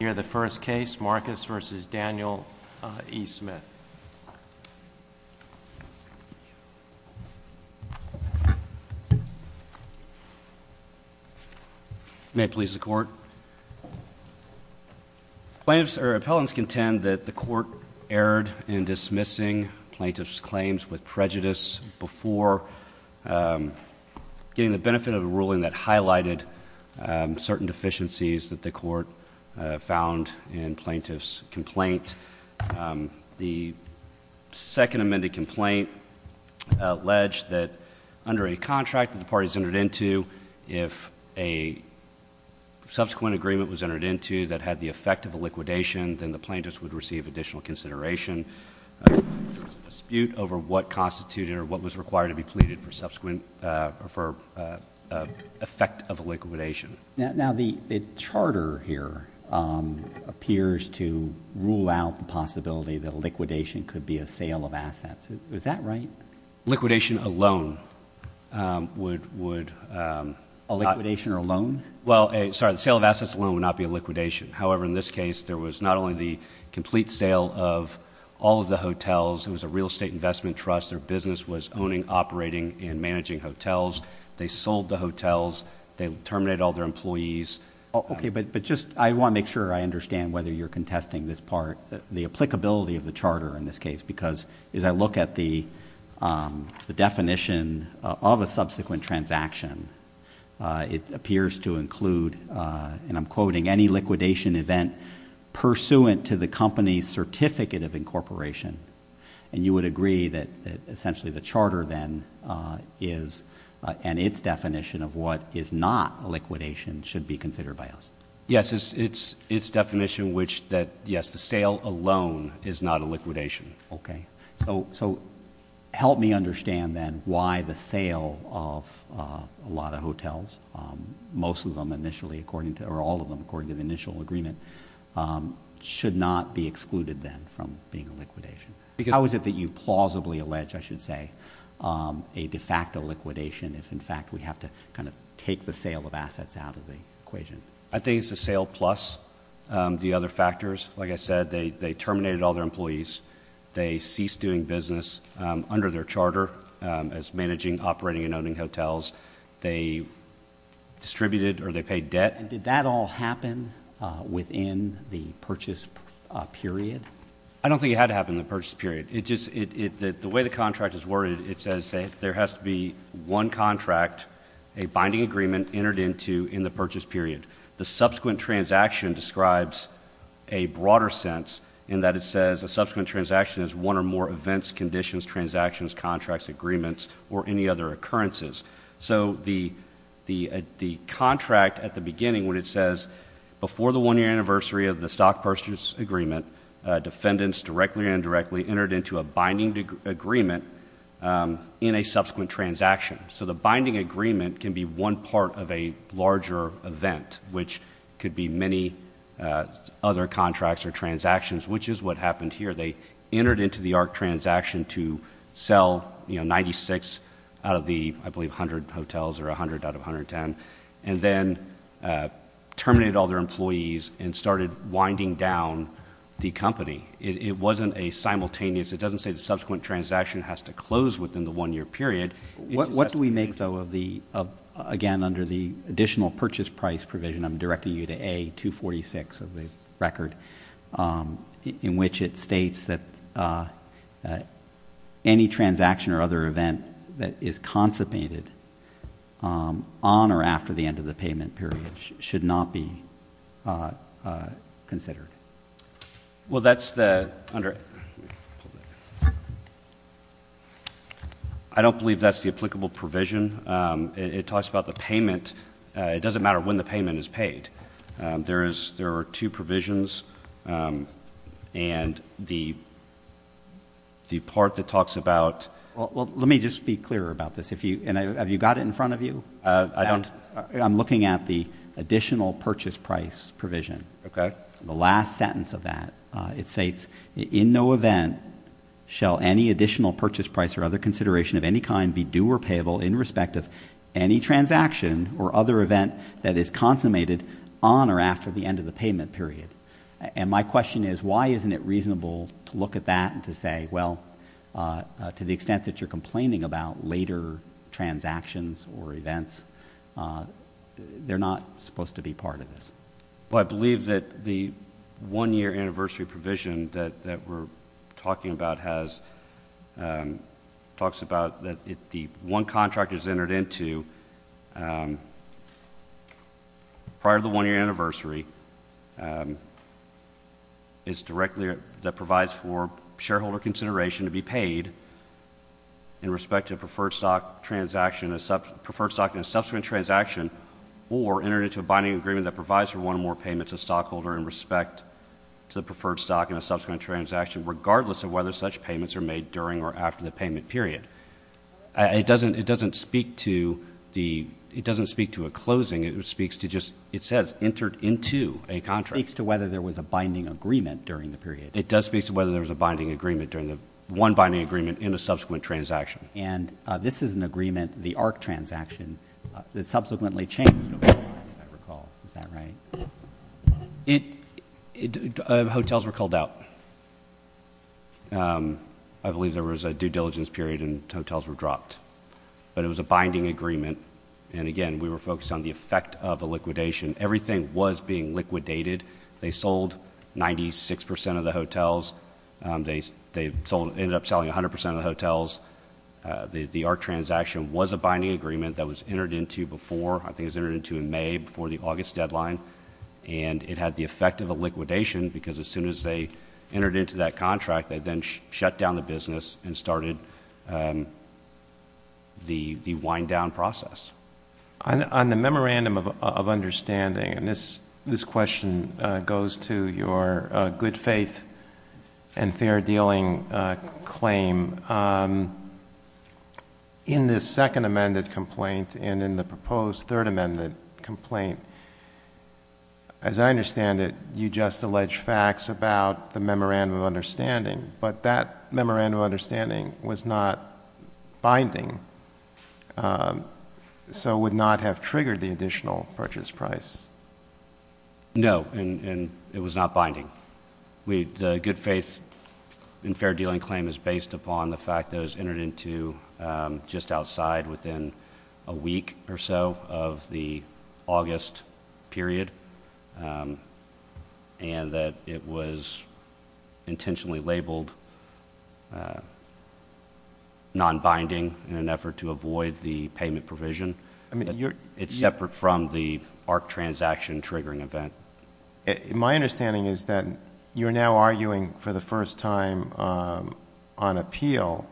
near the first case, Marcus v. Daniel E. Smith. May it please the Court. Plaintiffs or appellants contend that the Court erred in dismissing plaintiffs' claims with prejudice before getting the benefit of a ruling that highlighted certain deficiencies that the Court found in plaintiffs' complaint. The second amended complaint alleged that under a contract that the parties entered into, if a subsequent agreement was entered into that had the effect of a liquidation, then the plaintiffs would receive additional consideration. There was a dispute over what constituted or what was required to be pleaded for subsequent or for effect of a liquidation. Now, the charter here appears to rule out the possibility that a liquidation could be a sale of assets. Is that right? Liquidation alone would... A liquidation alone? Well, sorry, the sale of assets alone would not be a liquidation. However, in this case, there was not only the complete sale of all of the hotels. It was a real estate investment trust. They sold the hotels. They terminated all their employees. Okay, but I want to make sure I understand whether you're contesting this part. The applicability of the charter in this case, because as I look at the definition of a subsequent transaction, it appears to include, and I'm quoting, any liquidation event pursuant to the company's certificate of incorporation. And you would agree that essentially the charter then is, and its definition of what is not a liquidation, should be considered by us? Yes, its definition which that, yes, the sale alone is not a liquidation. Okay. So help me understand then why the sale of a lot of hotels, most of them initially according to, or all of them according to the initial agreement, should not be excluded then from being a liquidation? Because how is it that you plausibly allege, I should say, a de facto liquidation if in fact we have to kind of take the sale of assets out of the equation? I think it's a sale plus the other factors. Like I said, they terminated all their employees. They ceased doing business under their charter as managing, operating, and owning hotels. They distributed or they paid debt. And did that all happen within the purchase period? I don't think it had to happen in the purchase period. The way the contract is worded, it says there has to be one contract, a binding agreement entered into in the purchase period. The subsequent transaction describes a broader sense in that it says a subsequent transaction is one or more events, conditions, transactions, contracts, agreements, or any other occurrences. So the contract at the beginning when it says before the one-year anniversary of the stock purchase agreement, defendants directly or indirectly entered into a binding agreement in a subsequent transaction. So the binding agreement can be one part of a larger event, which could be many other contracts or transactions, which is what happened here. They entered into the ARC transaction to sell 96 out of the, I believe, 100 hotels or 100 out of 110, and then terminated all their employees and started winding down the company. It wasn't a simultaneous. It doesn't say the subsequent transaction has to close within the one-year period. What do we make, though, of the, again, under the additional purchase price provision, and I'm directing you to A246 of the record, in which it states that any transaction or other event that is concipated on or after the end of the payment period should not be considered? Well, that's the, under, I don't believe that's the applicable provision. It talks about the payment. It doesn't matter when the payment is paid. There is, there are two provisions, and the part that talks about. Well, let me just be clear about this. Have you got it in front of you? I don't. I'm looking at the additional purchase price provision. Okay. The last sentence of that. It states, in no event shall any additional purchase price or other consideration of any kind be due or payable in respect of any transaction or other event that is consummated on or after the end of the payment period. And my question is, why isn't it reasonable to look at that and to say, well, to the extent that you're complaining about later transactions or events, they're not supposed to be part of this? Well, I believe that the one-year anniversary provision that we're talking about has, talks about that if the one contract is entered into prior to the one-year anniversary, it's directly, that provides for shareholder consideration to be paid in respect to a preferred stock transaction, preferred stock in a subsequent transaction, or entered into a binding agreement that provides for one or more payments to a stockholder in respect to the preferred stock in a subsequent transaction, regardless of whether such payments are made during or after the payment period. It doesn't speak to a closing. It speaks to just, it says, entered into a contract. It speaks to whether there was a binding agreement during the period. It does speak to whether there was a binding agreement during the, one binding agreement in a subsequent transaction. And this is an agreement, the ARC transaction, that subsequently changed over time, as I recall. Is that right? Hotels were called out. I believe there was a due diligence period and hotels were dropped. But it was a binding agreement, and again, we were focused on the effect of a liquidation. Everything was being liquidated. They sold 96 percent of the hotels. They ended up selling 100 percent of the hotels. The ARC transaction was a binding agreement that was entered into before, I think it was entered into in May, before the August deadline. And it had the effect of a liquidation because as soon as they entered into that contract, they then shut down the business and started the wind-down process. On the memorandum of understanding, and this question goes to your good-faith and fair-dealing claim, in this second amended complaint and in the proposed third amended complaint, as I understand it, you just allege facts about the memorandum of understanding, but that memorandum of understanding was not binding, so it would not have triggered the additional purchase price. No, and it was not binding. The good-faith and fair-dealing claim is based upon the fact that it was entered into just outside within a week or so of the August period, and that it was intentionally labeled non-binding in an effort to avoid the payment provision. It's separate from the ARC transaction triggering event. My understanding is that you're now arguing for the first time on appeal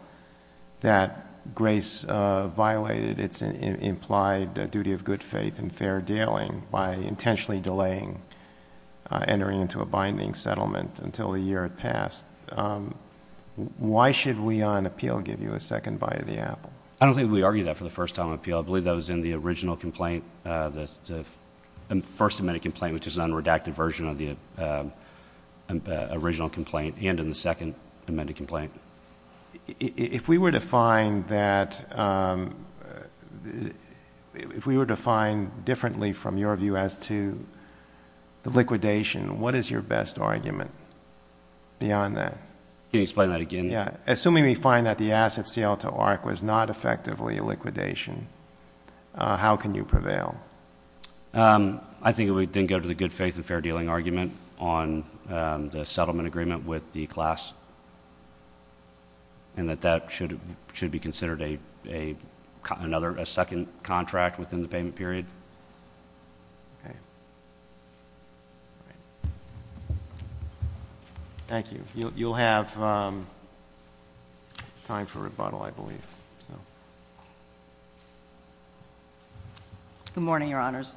that Grace violated its implied duty of good-faith and fair-dealing by intentionally delaying entering into a binding settlement until the year it passed. Why should we on appeal give you a second bite of the apple? I don't think we argued that for the first time on appeal. I believe that was in the original complaint, the first amended complaint, which is an unredacted version of the original complaint and in the second amended complaint. If we were to find that, if we were to find differently from your view as to the liquidation, what is your best argument beyond that? Can you explain that again? Assuming we find that the asset sale to ARC was not effectively a liquidation, how can you prevail? I think it would then go to the good-faith and fair-dealing argument on the settlement agreement with the class, and that that should be considered a second contract within the payment period. Okay. Thank you. You'll have time for rebuttal, I believe. Good morning, Your Honors.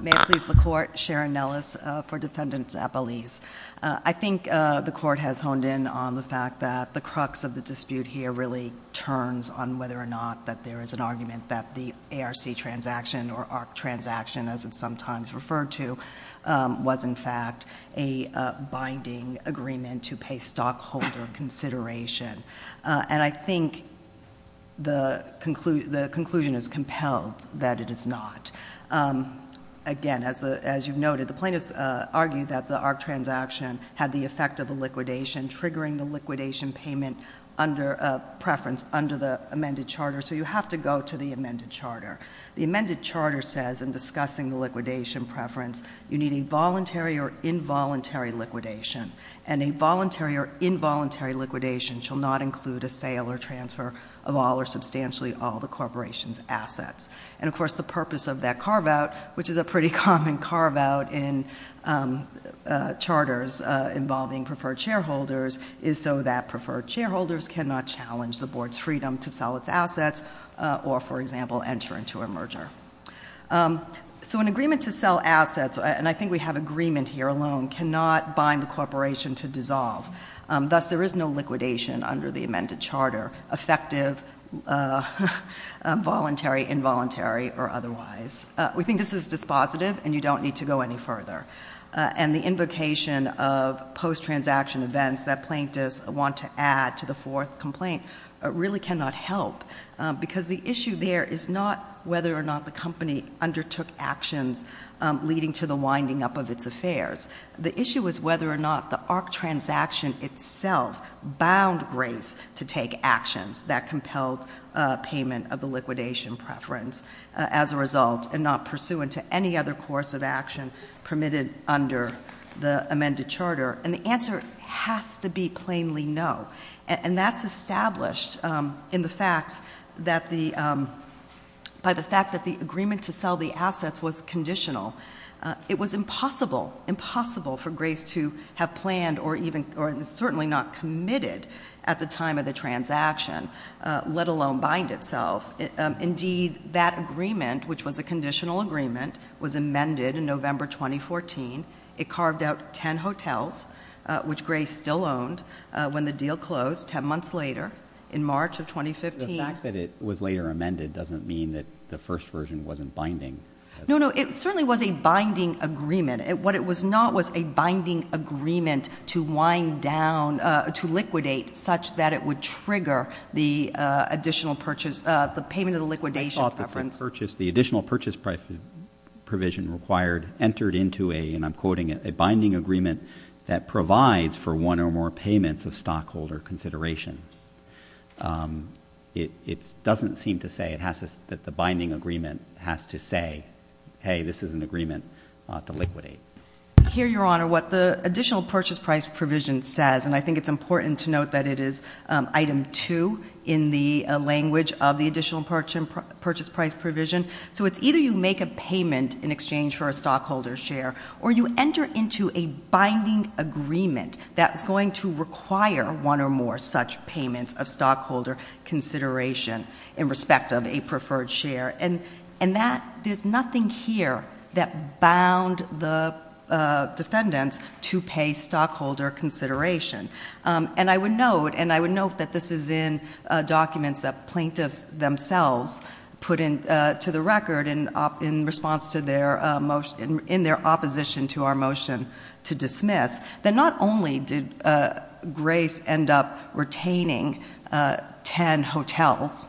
May it please the Court. Sharon Nellis for Defendant Zappalese. I think the Court has honed in on the fact that the crux of the dispute here really turns on whether or not that there is an argument that the ARC transaction, or ARC transaction as it's sometimes referred to, was in fact a binding agreement to pay stockholder consideration. And I think the conclusion is compelled that it is not. Again, as you've noted, the plaintiffs argued that the ARC transaction had the effect of a liquidation, triggering the liquidation payment preference under the amended charter, so you have to go to the amended charter. The amended charter says in discussing the liquidation preference, you need a voluntary or involuntary liquidation. And a voluntary or involuntary liquidation shall not include a sale or transfer of all or substantially all the corporation's assets. And of course, the purpose of that carve-out, which is a pretty common carve-out in charters involving preferred shareholders, is so that preferred shareholders cannot challenge the board's freedom to sell its assets or, for example, enter into a merger. So an agreement to sell assets, and I think we have agreement here alone, cannot bind the corporation to dissolve. Thus, there is no liquidation under the amended charter, effective, voluntary, involuntary, or otherwise. We think this is dispositive, and you don't need to go any further. And the invocation of post-transaction events that plaintiffs want to add to the fourth complaint really cannot help, because the issue there is not whether or not the company undertook actions leading to the winding up of its affairs. The issue is whether or not the ARC transaction itself bound Grace to take actions that compelled payment of the liquidation preference as a result and not pursuant to any other course of action permitted under the amended charter. And the answer has to be plainly no. And that's established in the facts that the, by the fact that the agreement to sell the assets was conditional. It was impossible, impossible for Grace to have planned or even, or certainly not committed at the time of the transaction, let alone bind itself. Indeed, that agreement, which was a conditional agreement, was amended in November 2014. It carved out ten hotels, which Grace still owned, when the deal closed ten months later in March of 2015. The fact that it was later amended doesn't mean that the first version wasn't binding. No, no, it certainly was a binding agreement. What it was not was a binding agreement to wind down, to liquidate, such that it would trigger the additional purchase, the payment of the liquidation preference. I thought the purchase, the additional purchase provision required entered into a, and I'm quoting it, a binding agreement that provides for one or more payments of stockholder consideration. It doesn't seem to say it has to, that the binding agreement has to say, hey, this is an agreement to liquidate. Here, Your Honor, what the additional purchase price provision says, and I think it's important to note that it is item two in the language of the additional purchase price provision. So it's either you make a payment in exchange for a stockholder share, or you enter into a binding agreement that's going to require one or more such payments of stockholder consideration in respect of a preferred share. And that, there's nothing here that bound the defendants to pay stockholder consideration. And I would note, and I would note that this is in documents that plaintiffs themselves put into the record in response to their, in their opposition to our motion to dismiss, that not only did Grace end up retaining ten hotels,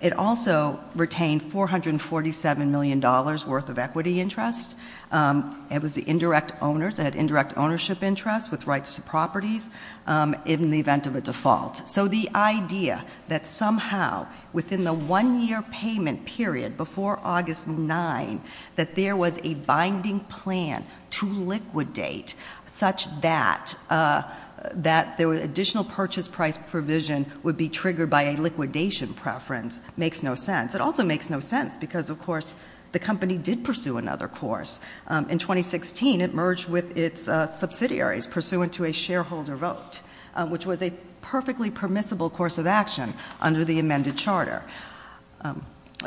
it also retained $447 million worth of equity interest. It was the indirect owners, it had indirect ownership interest with rights to properties in the event of a default. So the idea that somehow within the one year payment period before August 9, that there was a binding plan to liquidate such that, that the additional purchase price provision would be triggered by a liquidation preference, makes no sense. It also makes no sense because, of course, the company did pursue another course. In 2016, it merged with its subsidiaries pursuant to a shareholder vote, which was a perfectly permissible course of action under the amended charter.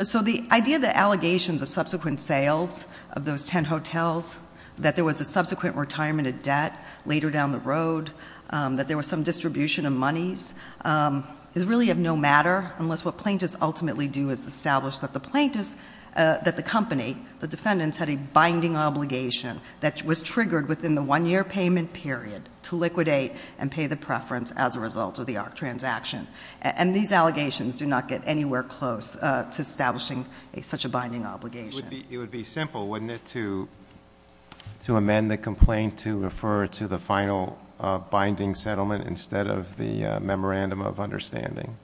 So the idea that allegations of subsequent sales of those ten hotels, that there was a subsequent retirement of debt later down the road, that there was some distribution of monies is really of no matter unless what plaintiffs ultimately do is establish that the plaintiffs, that the company, the defendants, had a binding obligation that was triggered within the one year payment period to liquidate and pay the preference as a result of the ARC transaction. And these allegations do not get anywhere close to establishing such a binding obligation. It would be simple, wouldn't it, to amend the complaint to refer to the final binding settlement instead of the memorandum of understanding?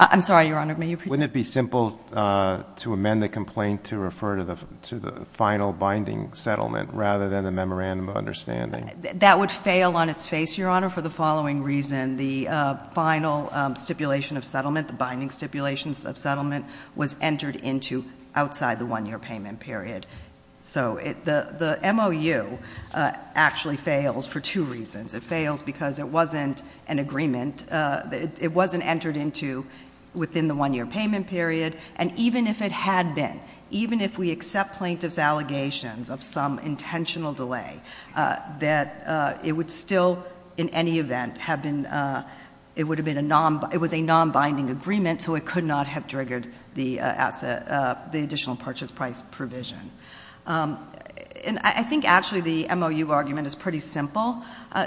I'm sorry, Your Honor, may you repeat? Wouldn't it be simple to amend the complaint to refer to the final binding settlement rather than the memorandum of understanding? That would fail on its face, Your Honor, for the following reason. The final stipulation of settlement, the binding stipulation of settlement, was entered into outside the one year payment period. So the MOU actually fails for two reasons. It fails because it wasn't an agreement. It wasn't entered into within the one year payment period. And even if it had been, even if we accept plaintiffs' allegations of some intentional delay, that it would still in any event have been, it would have been a non, it was a non-binding agreement so it could not have triggered the asset, the additional purchase price provision. And I think actually the MOU argument is pretty simple.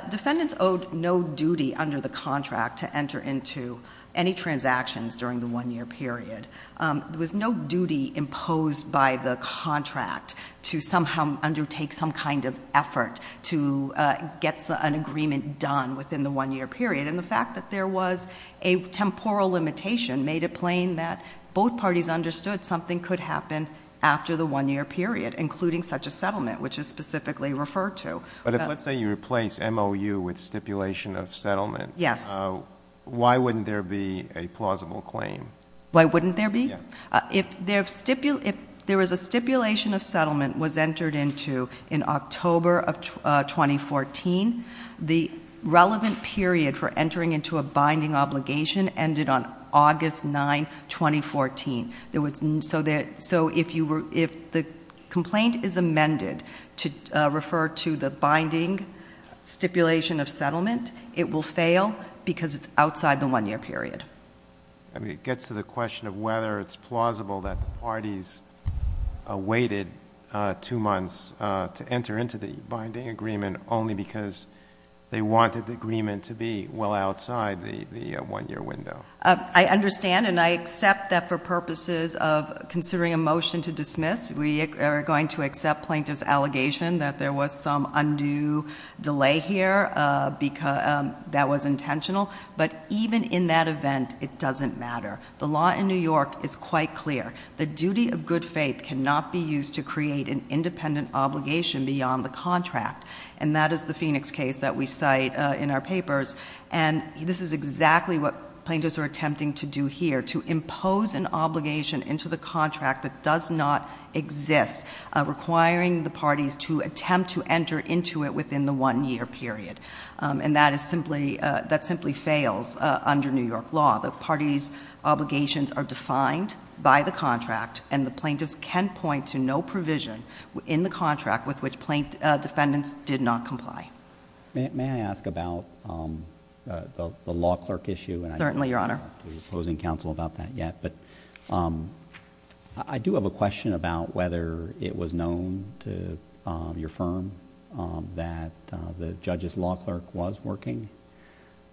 Defendants owed no duty under the contract to enter into any transactions during the one year period. There was no duty imposed by the contract to somehow undertake some kind of effort to get an agreement done within the one year period. And the fact that there was a temporal limitation made it plain that both parties understood something could happen after the one year period, including such a settlement, which is specifically referred to. But let's say you replace MOU with stipulation of settlement. Yes. Why wouldn't there be a plausible claim? Why wouldn't there be? Yeah. If there was a stipulation of settlement was entered into in October of 2014, the relevant period for entering into a binding obligation ended on August 9, 2014. So if the complaint is amended to refer to the binding stipulation of settlement, it will fail because it's outside the one year period. I mean, it gets to the question of whether it's plausible that the parties awaited two months to enter into the binding agreement only because they wanted the agreement to be well outside the one year window. I understand and I accept that for purposes of considering a motion to dismiss, we are going to accept plaintiff's allegation that there was some undue delay here that was intentional. But even in that event, it doesn't matter. The law in New York is quite clear. The duty of good faith cannot be used to create an independent obligation beyond the contract. And that is the Phoenix case that we cite in our papers. And this is exactly what plaintiffs are attempting to do here, to impose an obligation into the contract that does not exist, requiring the parties to attempt to enter into it within the one year period. And that simply fails under New York law. The parties' obligations are defined by the contract, and the plaintiffs can point to no provision in the contract with which plaintiff defendants did not comply. May I ask about the law clerk issue? Certainly, Your Honor. I'm not proposing counsel about that yet, but I do have a question about whether it was known to your firm that the judge's law clerk was working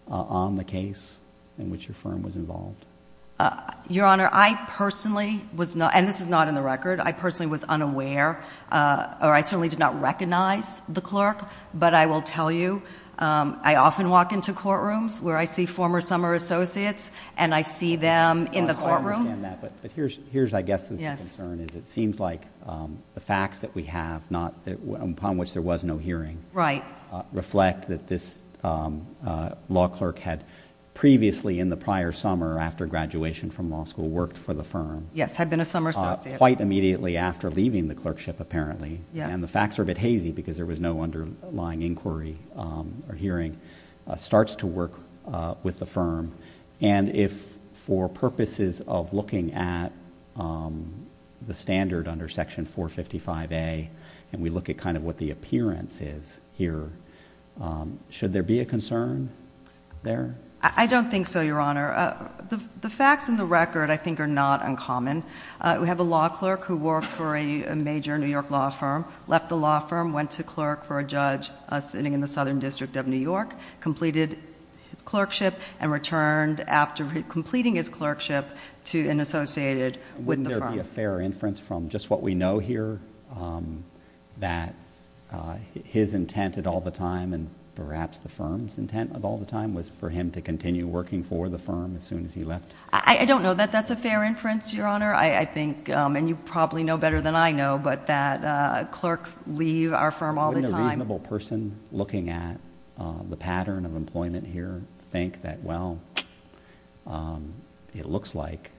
on the case in which your firm was involved. Your Honor, I personally was not, and this is not in the record, I personally was unaware or I certainly did not recognize the clerk, but I will tell you I often walk into courtrooms where I see former summer associates and I see them in the courtroom. I understand that, but here's I guess the concern. It seems like the facts that we have, upon which there was no hearing, reflect that this law clerk had previously in the prior summer after graduation from law school worked for the firm. Yes, had been a summer associate. Quite immediately after leaving the clerkship apparently. And the facts are a bit hazy because there was no underlying inquiry or hearing, starts to work with the firm. And if for purposes of looking at the standard under Section 455A and we look at kind of what the appearance is here, should there be a concern there? I don't think so, Your Honor. The facts in the record I think are not uncommon. We have a law clerk who worked for a major New York law firm, left the law firm, went to clerk for a judge sitting in the southern district of New York, completed his clerkship and returned after completing his clerkship to an associated with the firm. Wouldn't there be a fair inference from just what we know here that his intent at all the time and perhaps the firm's intent at all the time was for him to continue working for the firm as soon as he left? I don't know that that's a fair inference, Your Honor. I think, and you probably know better than I know, but that clerks leave our firm all the time. Wouldn't a reasonable person looking at the pattern of employment here think that, well, it looks like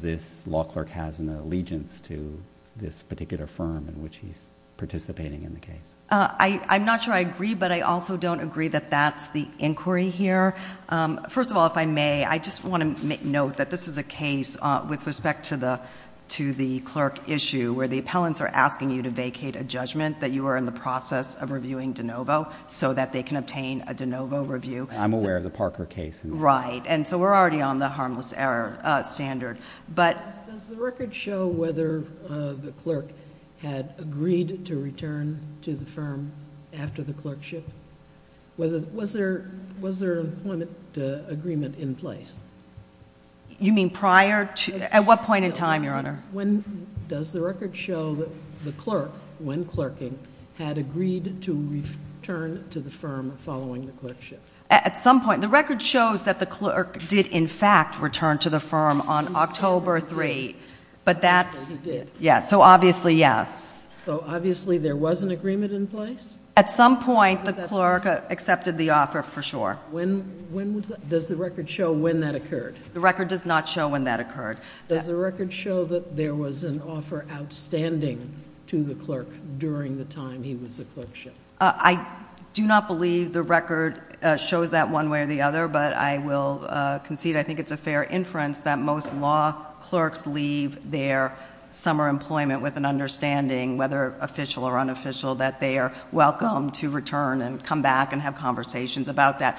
this law clerk has an allegiance to this particular firm in which he's participating in the case? I'm not sure I agree, but I also don't agree that that's the inquiry here. First of all, if I may, I just want to make note that this is a case with respect to the clerk issue where the appellants are asking you to vacate a judgment that you were in the process of reviewing DeNovo so that they can obtain a DeNovo review. I'm aware of the Parker case. Right, and so we're already on the harmless error standard, but... Does the record show whether the clerk had agreed to return to the firm after the clerkship? Was there an employment agreement in place? You mean prior to... at what point in time, Your Honor? Does the record show that the clerk, when clerking, had agreed to return to the firm following the clerkship? At some point. The record shows that the clerk did, in fact, return to the firm on October 3, but that's... Yes, he did. Yes, so obviously, yes. So, obviously, there was an agreement in place? At some point, the clerk accepted the offer, for sure. When was that? Does the record show when that occurred? The record does not show when that occurred. Does the record show that there was an offer outstanding to the clerk during the time he was a clerkship? I do not believe the record shows that one way or the other, but I will concede I think it's a fair inference that most law clerks leave their summer employment with an understanding, whether official or unofficial, that they are welcome to return and come back and have conversations about that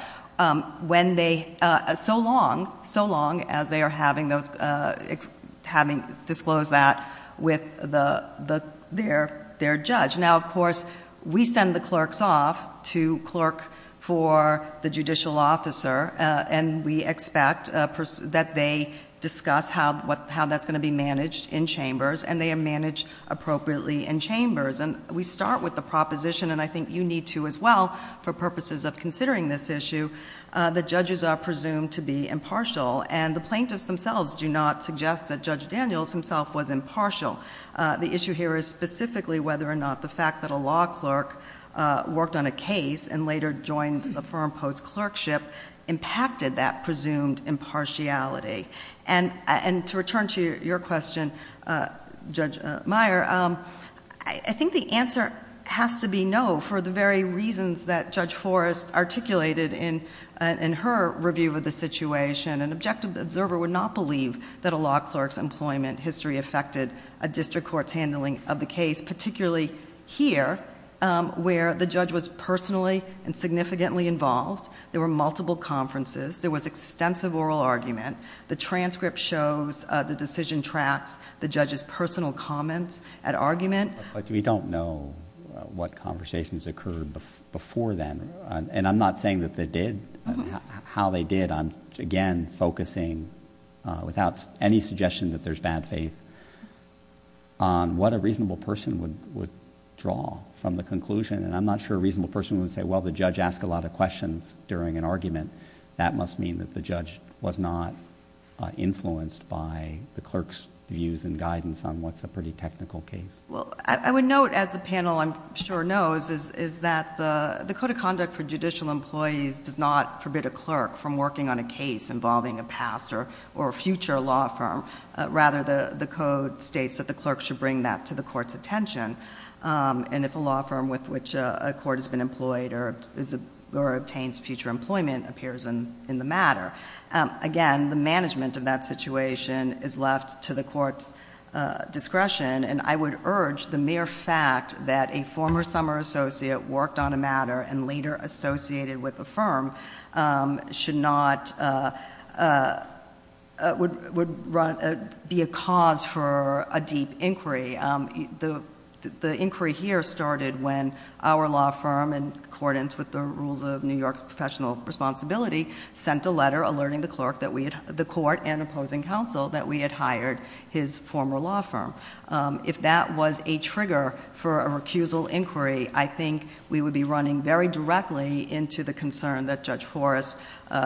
so long as they are having disclosed that with their judge. Now, of course, we send the clerks off to clerk for the judicial officer and we expect that they discuss how that's going to be managed in chambers and they are managed appropriately in chambers. And we start with the proposition, and I think you need to as well for purposes of considering this issue, that judges are presumed to be impartial and the plaintiffs themselves do not suggest that Judge Daniels himself was impartial. The issue here is specifically whether or not the fact that a law clerk worked on a case and later joined the firm post-clerkship impacted that presumed impartiality. And to return to your question, Judge Meyer, I think the answer has to be no for the very reasons that Judge Forrest articulated in her review of the situation. An objective observer would not believe that a law clerk's employment history affected a district court's handling of the case, particularly here where the judge was personally and significantly involved. There were multiple conferences. There was extensive oral argument. The transcript shows the decision tracts, the judge's personal comments, at argument. But we don't know what conversations occurred before then, and I'm not saying that they did. How they did, I'm again focusing, without any suggestion that there's bad faith, on what a reasonable person would draw from the conclusion. And I'm not sure a reasonable person would say, well, the judge asked a lot of questions during an argument. That must mean that the judge was not influenced by the clerk's views and guidance on what's a pretty technical case. Well, I would note, as the panel I'm sure knows, is that the Code of Conduct for Judicial Employees does not forbid a clerk from working on a case involving a past or future law firm. Rather, the Code states that the clerk should bring that to the court's attention. And if a law firm with which a court has been employed or obtains future employment appears in the matter, again, the management of that situation is left to the court's discretion. And I would urge the mere fact that a former summer associate worked on a matter and later associated with a firm should not, would be a cause for a deep inquiry. The inquiry here started when our law firm, in accordance with the rules of New York's professional responsibility, sent a letter alerting the court and opposing counsel that we had hired his former law firm. If that was a trigger for a recusal inquiry, I think we would be running very directly into the concern that Judge Forrest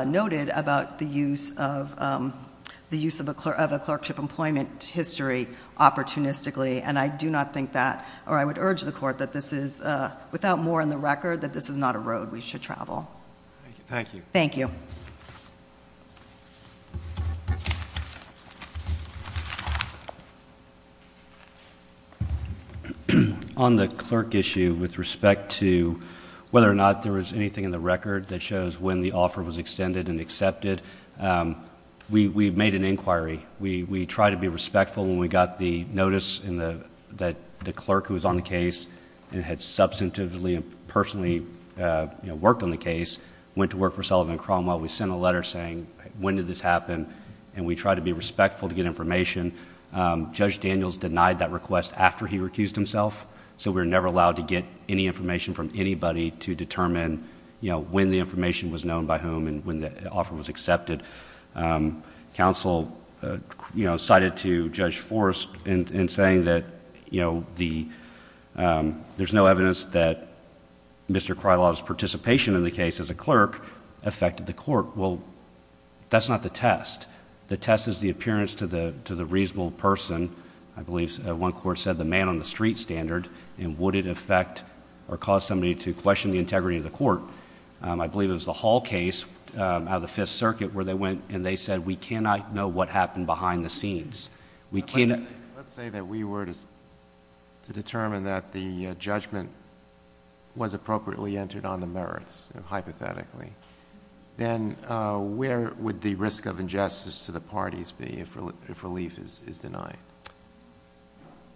noted about the use of a clerkship employment history opportunistically, and I do not think that, or I would urge the court that this is, without more in the record, that this is not a road we should travel. Thank you. Thank you. On the clerk issue, with respect to whether or not there was anything in the record that shows when the offer was extended and accepted, we made an inquiry. We tried to be respectful when we got the notice that the clerk who was on the case and had substantively and personally worked on the case went to work for Sullivan and Cromwell. We sent a letter saying, when did this happen? And we tried to be respectful to get information. Judge Daniels denied that request after he recused himself, so we were never allowed to get any information from anybody to determine when the information was known by whom and when the offer was accepted. Counsel cited to Judge Forrest in saying that there's no evidence that Mr. Krylov's participation in the case as a clerk affected the court. That's not the test. The test is the appearance to the reasonable person. I believe one court said the man on the street standard and would it affect or cause somebody to question the integrity of the court. I believe it was the Hall case out of the Fifth Circuit where they went and they said, we cannot know what happened behind the scenes. Let's say that we were to determine that the judgment was appropriately entered on the merits, hypothetically. Then where would the risk of injustice to the parties be if relief is denied?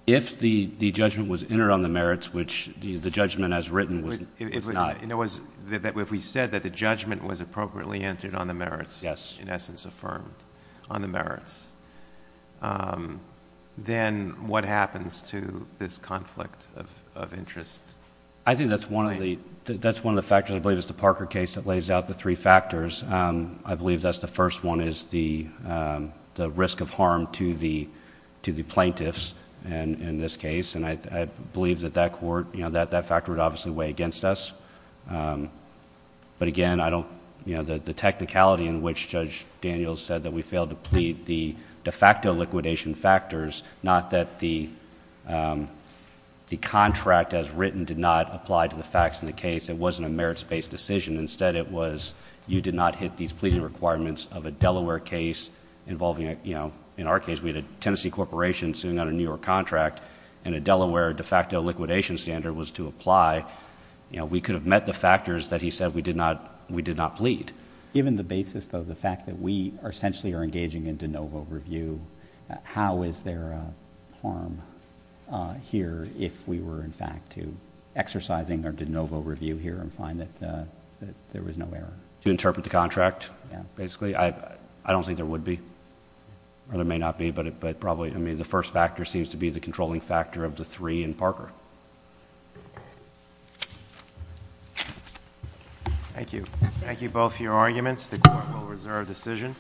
If the judgment was entered on the merits, which the judgment as written was not. If we said that the judgment was appropriately entered on the merits, in essence affirmed on the merits, then what happens to this conflict of interest? I think that's one of the factors. Actually, I believe it's the Parker case that lays out the three factors. I believe that's the first one is the risk of harm to the plaintiffs in this case. I believe that that factor would obviously weigh against us. But again, the technicality in which Judge Daniels said that we failed to plead the de facto liquidation factors, not that the contract as written did not apply to the facts in the case. It wasn't a merits-based decision. Instead, it was you did not hit these pleading requirements of a Delaware case involving, in our case, we had a Tennessee corporation suing on a New York contract and a Delaware de facto liquidation standard was to apply. We could have met the factors that he said we did not plead. Given the basis though, the fact that we essentially are engaging in de novo review, how is there harm here if we were, in fact, exercising our de novo review here and find that there was no error? Do you interpret the contract, basically? I don't think there would be or there may not be, but probably the first factor seems to be the controlling factor of the three in Parker. Thank you. Thank you both for your arguments. The court will reserve decision.